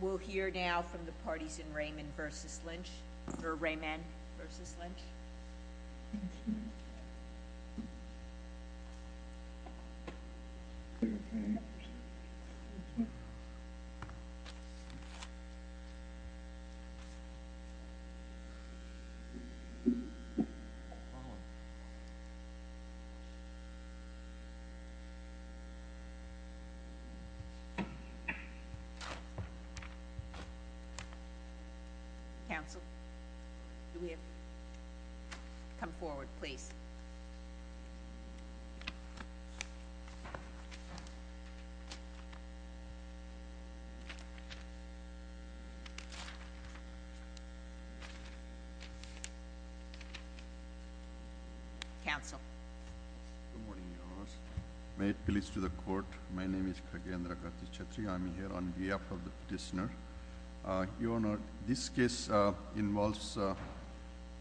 We'll hear now from the parties in Rehman v. Lynch, or Rehman v. Lynch. May it please the court, my name is Kagendra Karthi Chettri, I'm here on behalf of the petitioner. Your Honor, this case involves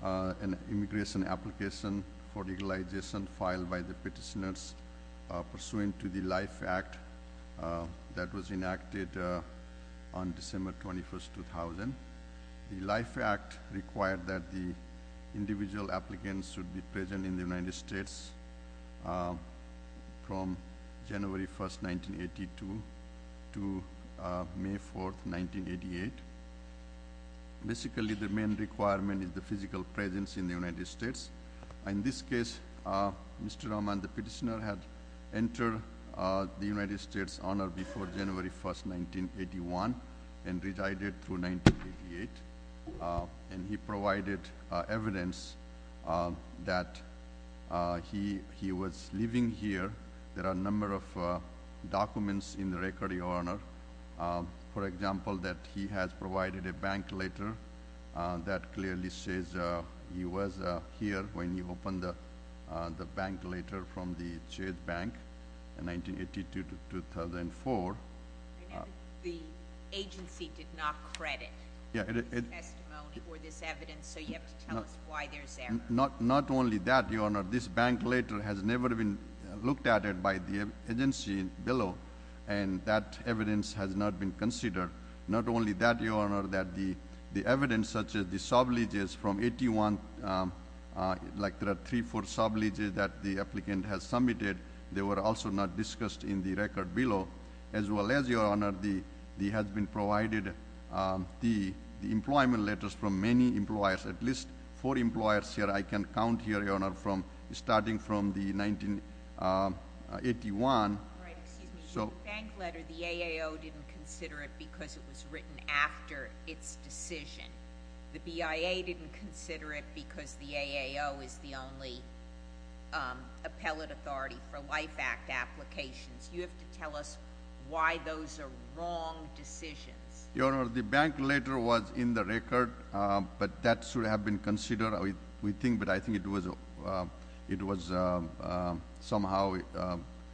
an immigration application for legalization filed by the petitioners pursuant to the Life Act that was enacted on December 21st, 2000. The Life Act required that the individual applicants should be present in the United States on December 24th, 1988. Basically, the main requirement is the physical presence in the United States. In this case, Mr. Rehman, the petitioner had entered the United States Honor before January 1st, 1981, and resided through 1988. And he provided evidence that he was living here. There are a number of documents in the record, Your Honor. For example, that he has provided a bank letter that clearly says he was here when he opened the bank letter from the Ched Bank in 1982 to 2004. The agency did not credit the testimony or this evidence, so you have to tell us why there's error. Not only that, Your Honor, this bank letter has never been looked at by the agency below, and that evidence has not been considered. Not only that, Your Honor, that the evidence such as the subleases from 1981, like there are three or four subleases that the applicant has submitted, they were also not discussed in the record below, as well as, Your Honor, the employment letters from many employers, at least four employers here. I can count here, Your Honor, starting from 1981. Right. Excuse me. The bank letter, the AAO didn't consider it because it was written after its decision. The BIA didn't consider it because the AAO is the only appellate authority for Life Act applications. You have to tell us why those are wrong decisions. Your Honor, the bank letter was in the record, but that should have been considered. We think that I think it was somehow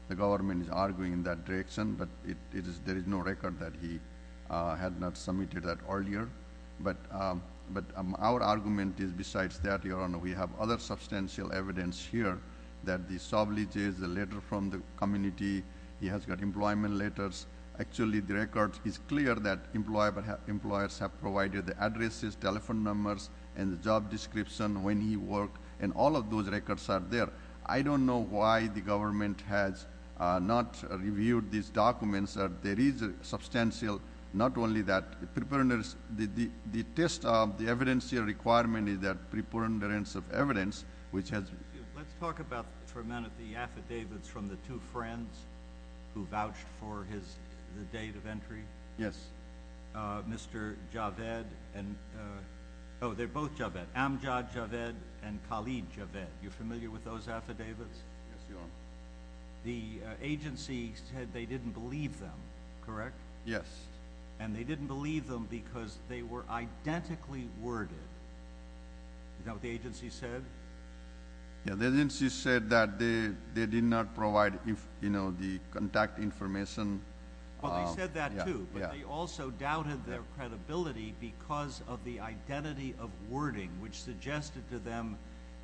the government is arguing in that direction, but there is no record that he had not submitted that earlier. But our argument is besides that, Your Honor, we have other substantial evidence here that the subleases, the letter from the community, he has got employment letters. Actually, the record is clear that employers have provided the addresses, telephone numbers, and the job description, when he worked, and all of those records are there. I don't know why the government has not reviewed these documents. There is substantial, not only that, the test of the evidence here requirement is that preponderance of evidence, which has been a requirement, has been a requirement. Let's talk about for a minute the affidavits from the two friends who vouched for the date of entry. Yes. Mr. Javed and oh, they are both Javed. Amjad Javed and Khalid Javed. You are familiar with those affidavits? Yes, Your Honor. The agency said they didn't believe them, correct? Yes. And they didn't believe them because they were identically worded. Is that what the agency said? Yes. The agency said that they did not provide the contact information. Well, they said that, too, but they also doubted their credibility because of the identity of wording, which suggested to them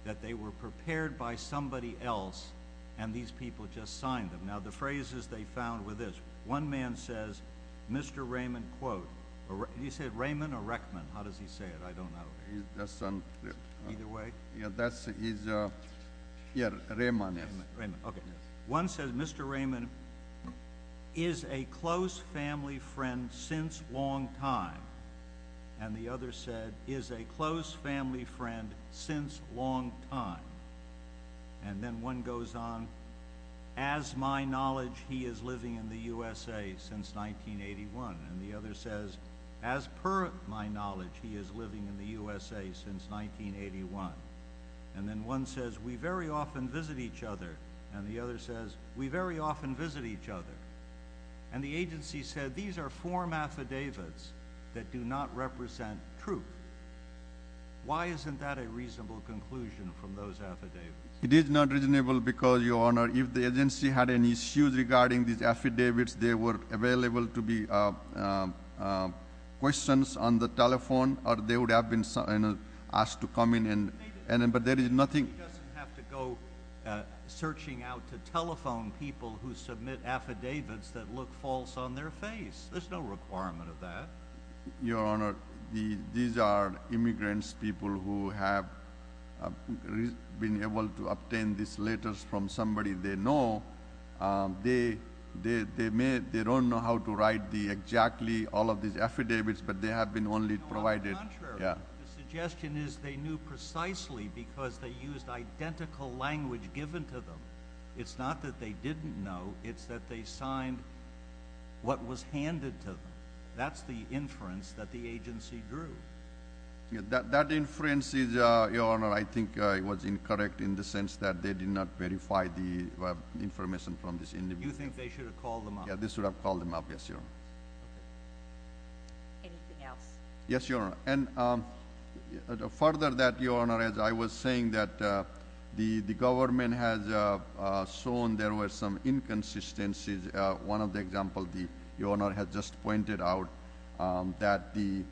that they were prepared by somebody else and these people just signed them. Now, the phrases they found were this. One man says, Mr. Raymond, quote, and he said Raymond or Reckman. How does he say it? I don't know. Either way? Yes, Raymond. Raymond. Okay. One says, Mr. Raymond is a close family friend since long time. And the other said, is a close family friend since long time. And then one goes on, as my knowledge, he is living in the USA since 1981. And the other says, as per my knowledge, he is living in the USA since 1981. And then one says, we very often visit each other. And the other says, we very often visit each other. And the agency said, these are form affidavits that do not represent truth. Why isn't that a reasonable conclusion from those affidavits? It is not reasonable because, Your Honor, if the agency had any issues regarding these have been asked to come in, but there is nothing. He doesn't have to go searching out to telephone people who submit affidavits that look false on their face. There's no requirement of that. Your Honor, these are immigrants, people who have been able to obtain these letters from somebody they know. They don't know how to write exactly all of these affidavits, but they have been only provided. No, on the contrary. Yeah. The suggestion is they knew precisely because they used identical language given to them. It's not that they didn't know. It's that they signed what was handed to them. That's the inference that the agency drew. That inference is, Your Honor, I think it was incorrect in the sense that they did not verify the information from this individual. You think they should have called them up? Yeah, they should have called them up. Yes, Your Honor. Anything else? Yes, Your Honor. And further that, Your Honor, as I was saying, that the government has shown there were some inconsistencies. One of the examples, Your Honor, has just pointed out that the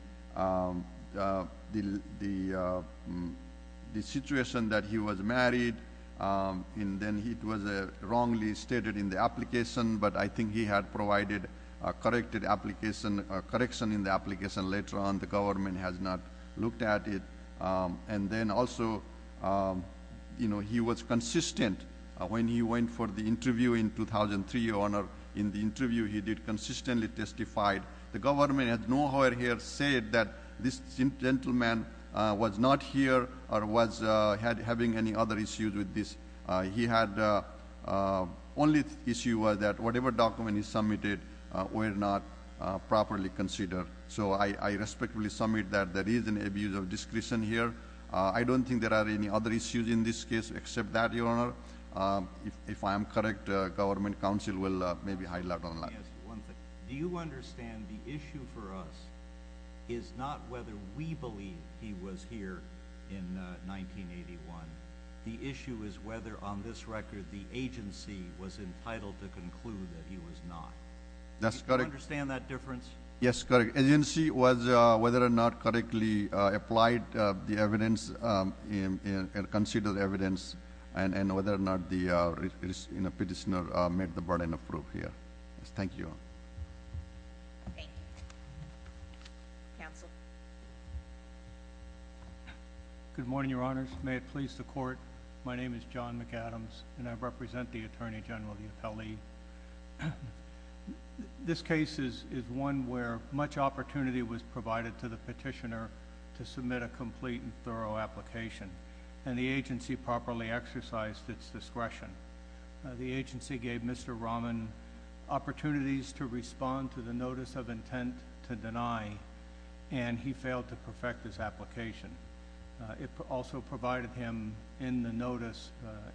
situation that he was married, and then it was wrongly stated in the application, but I think he had provided a corrected application, a correction in the application later on. The government has not looked at it. And then also, you know, he was consistent when he went for the interview in 2003, Your Honor. In the interview, he did consistently testify. The government has nowhere here said that this gentleman was not here or was having any other issues with this. He had only issue was that whatever document he submitted were not properly considered. So I respectfully submit that there is an abuse of discretion here. I don't think there are any other issues in this case except that, Your Honor. If I am correct, government counsel will maybe highlight on that. Let me ask you one thing. Do you understand the issue for us is not whether we believe he was here in 1981. The issue is whether on this record the agency was entitled to conclude that he was not. That's correct. Do you understand that difference? Yes, correct. Agency was whether or not correctly applied the evidence and considered evidence, and whether or not the petitioner made the burden of proof here. Thank you, Your Honor. Thank you. Counsel. Good morning, Your Honors. May it please the Court, my name is John McAdams, and I represent the Attorney General, the appellee. This case is one where much opportunity was provided to the petitioner to submit a complete and thorough application, and the agency properly exercised its discretion. The agency gave Mr. Rahman opportunities to respond to the notice of intent to deny, and he failed to perfect his application. It also provided him in the notice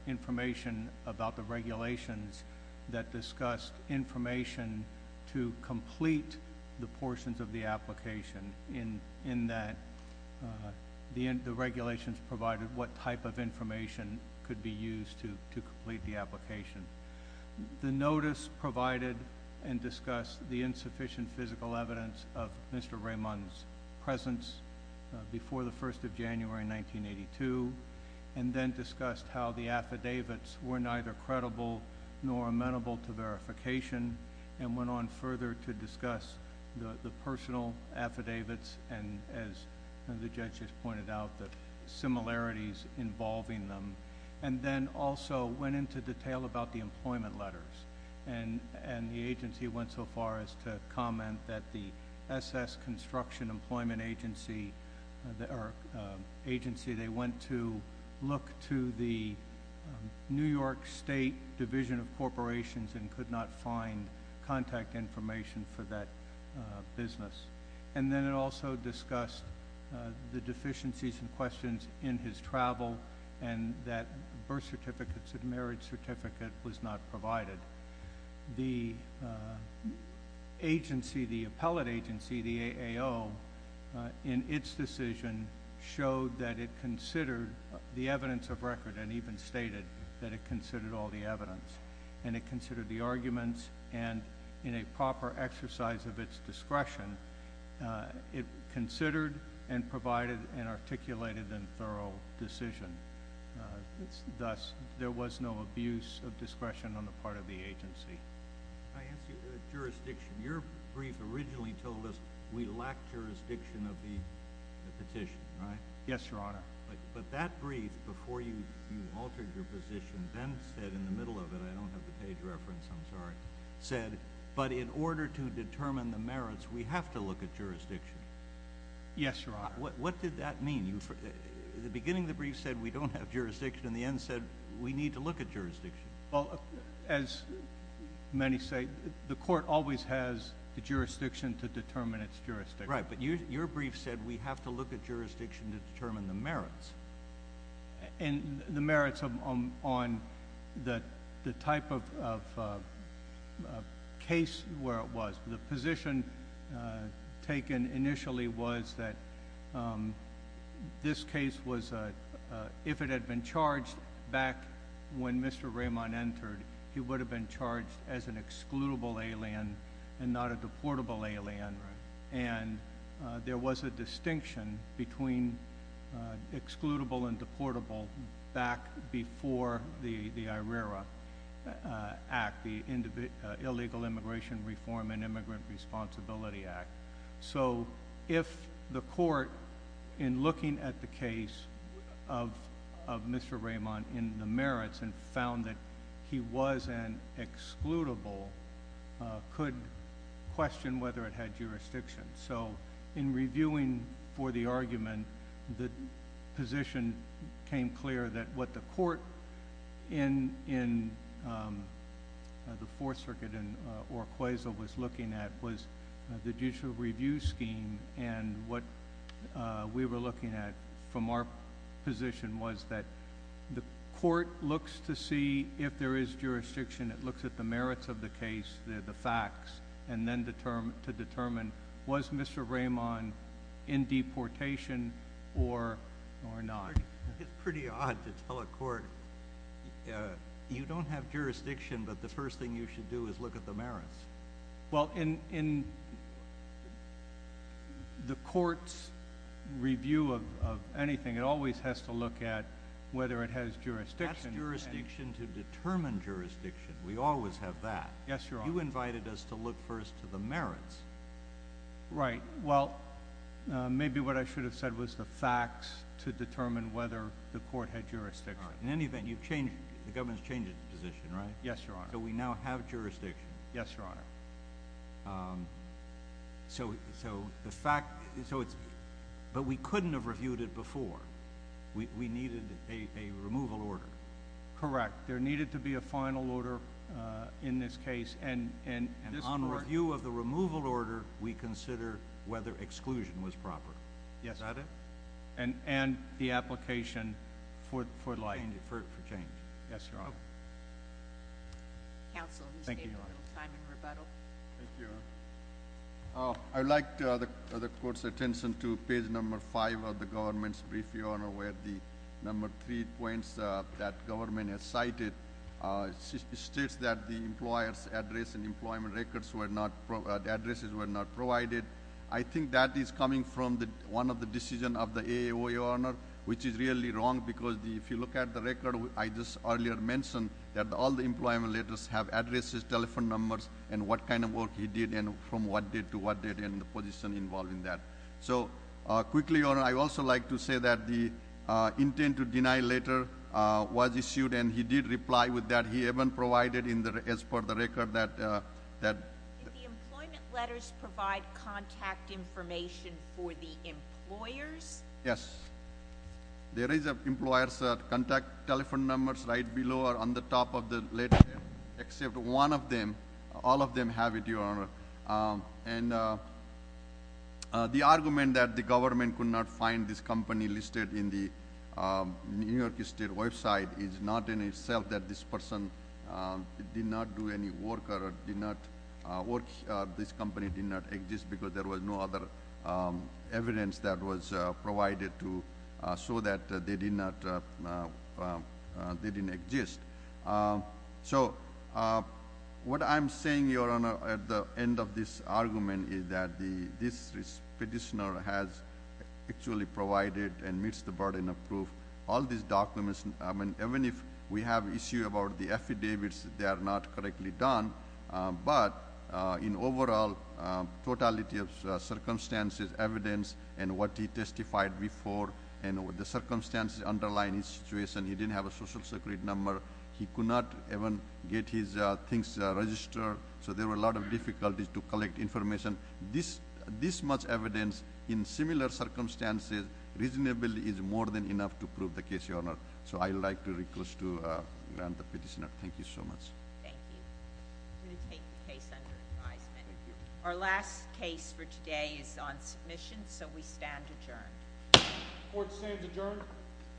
information about the regulations that discussed information to complete the portions of the application, in that the regulations provided what type of information could be of Mr. Rahman's presence before the 1st of January, 1982, and then discussed how the affidavits were neither credible nor amenable to verification, and went on further to discuss the personal affidavits and, as the judge has pointed out, the similarities involving them, and then also went into detail about the employment letters, and the agency went so far as to comment that the S.S. Construction Employment Agency went to look to the New York State Division of Corporations and could not find contact information for that business. And then it also discussed the deficiencies and questions in his travel, and that birth certificates and marriage certificate was not provided. The agency, the appellate agency, the AAO, in its decision, showed that it considered the evidence of record, and even stated that it considered all the evidence, and it considered the arguments, and in a proper exercise of its discretion, it considered and provided an articulated and thorough decision. Thus, there was no abuse of discretion on the part of the agency. Can I ask you a jurisdiction? Your brief originally told us we lacked jurisdiction of the petition, right? Yes, Your Honor. But that brief, before you altered your position, then said in the middle of it, I don't have the jurisdiction to determine the merits. We have to look at jurisdiction. Yes, Your Honor. What did that mean? In the beginning, the brief said we don't have jurisdiction. In the end, it said we need to look at jurisdiction. Well, as many say, the court always has the jurisdiction to determine its jurisdiction. Right, but your brief said we have to look at jurisdiction to determine the merits. And the merits on the type of case where it was. The position taken initially was that this case was, if it had been charged back when Mr. Raymond entered, he would have been charged as an excludable alien and not a deportable alien. Right. And there was a distinction between excludable and deportable back before the IRERA Act, the Illegal Immigration Reform and Immigrant Responsibility Act. So if the court, in looking at the case of Mr. Raymond in the merits and found that he was an excludable, could question whether it had jurisdiction. So in reviewing for the argument, the position came clear that what the court in the Fourth Circuit in Urquiza was looking at was the judicial review scheme. And what we were looking at from our position was that the court looks to see if there is jurisdiction, it looks at the merits of the case, the facts, and then to determine was Mr. Raymond in deportation or not. It's pretty odd to tell a court, you don't have jurisdiction, but the first thing you should do is look at the merits. Well, in the court's review of anything, it always has to look at whether it has jurisdiction. That's jurisdiction to determine jurisdiction. We always have that. Yes, Your Honor. You invited us to look first to the merits. Right. Well, maybe what I should have said was the facts to determine whether the court had jurisdiction. In any event, you've changed, the government's changed its position, right? Yes, Your Honor. So we now have jurisdiction. Yes, Your Honor. So the fact, but we couldn't have reviewed it before. We needed a removal order. Correct. There needed to be a final order in this case. And on review of the removal order, we consider whether exclusion was proper. Yes. Is that it? And the application for change. Yes, Your Honor. Thank you, Your Honor. I would like the court's attention to page number five of the government's brief, Your Honor, where the number three points that government has cited states that the employer's address and employment records were not, the addresses were not provided. I think that is coming from one of the decisions of the AOA, Your Honor, which is really wrong because if you look at the record I just earlier mentioned that all the employment letters have addresses, telephone numbers, and what kind of work he did and from what date to what date and the position involved in that. So quickly, Your Honor, I would also like to say that the intent to deny letter was issued and he did reply with that. He even provided as per the record that— Did the employment letters provide contact information for the employers? Yes. There is an employer's contact telephone numbers right below or on the top of the letter except one of them, all of them have it, Your Honor. And the argument that the government could not find this company listed in the New York State website is not in itself that this person did not do any work or this company did not exist because there was no other evidence that was provided to show that they did not, they didn't exist. So what I'm saying, Your Honor, at the end of this argument is that this petitioner has actually provided and meets the burden of proof. All these documents, I mean, even if we have issue about the affidavits, they are not correctly done. But in overall, totality of circumstances, evidence, and what he testified before, and the circumstances underlying his situation, he didn't have a social security number. He could not even get his things registered. So there were a lot of difficulties to collect information. This much evidence in similar circumstances reasonably is more than enough to prove the case, Your Honor. So I would like to request to grant the petitioner. Thank you so much. Thank you. I'm going to take the case under advisement. Thank you. Our last case for today is on submission, so we stand adjourned. Court stands adjourned.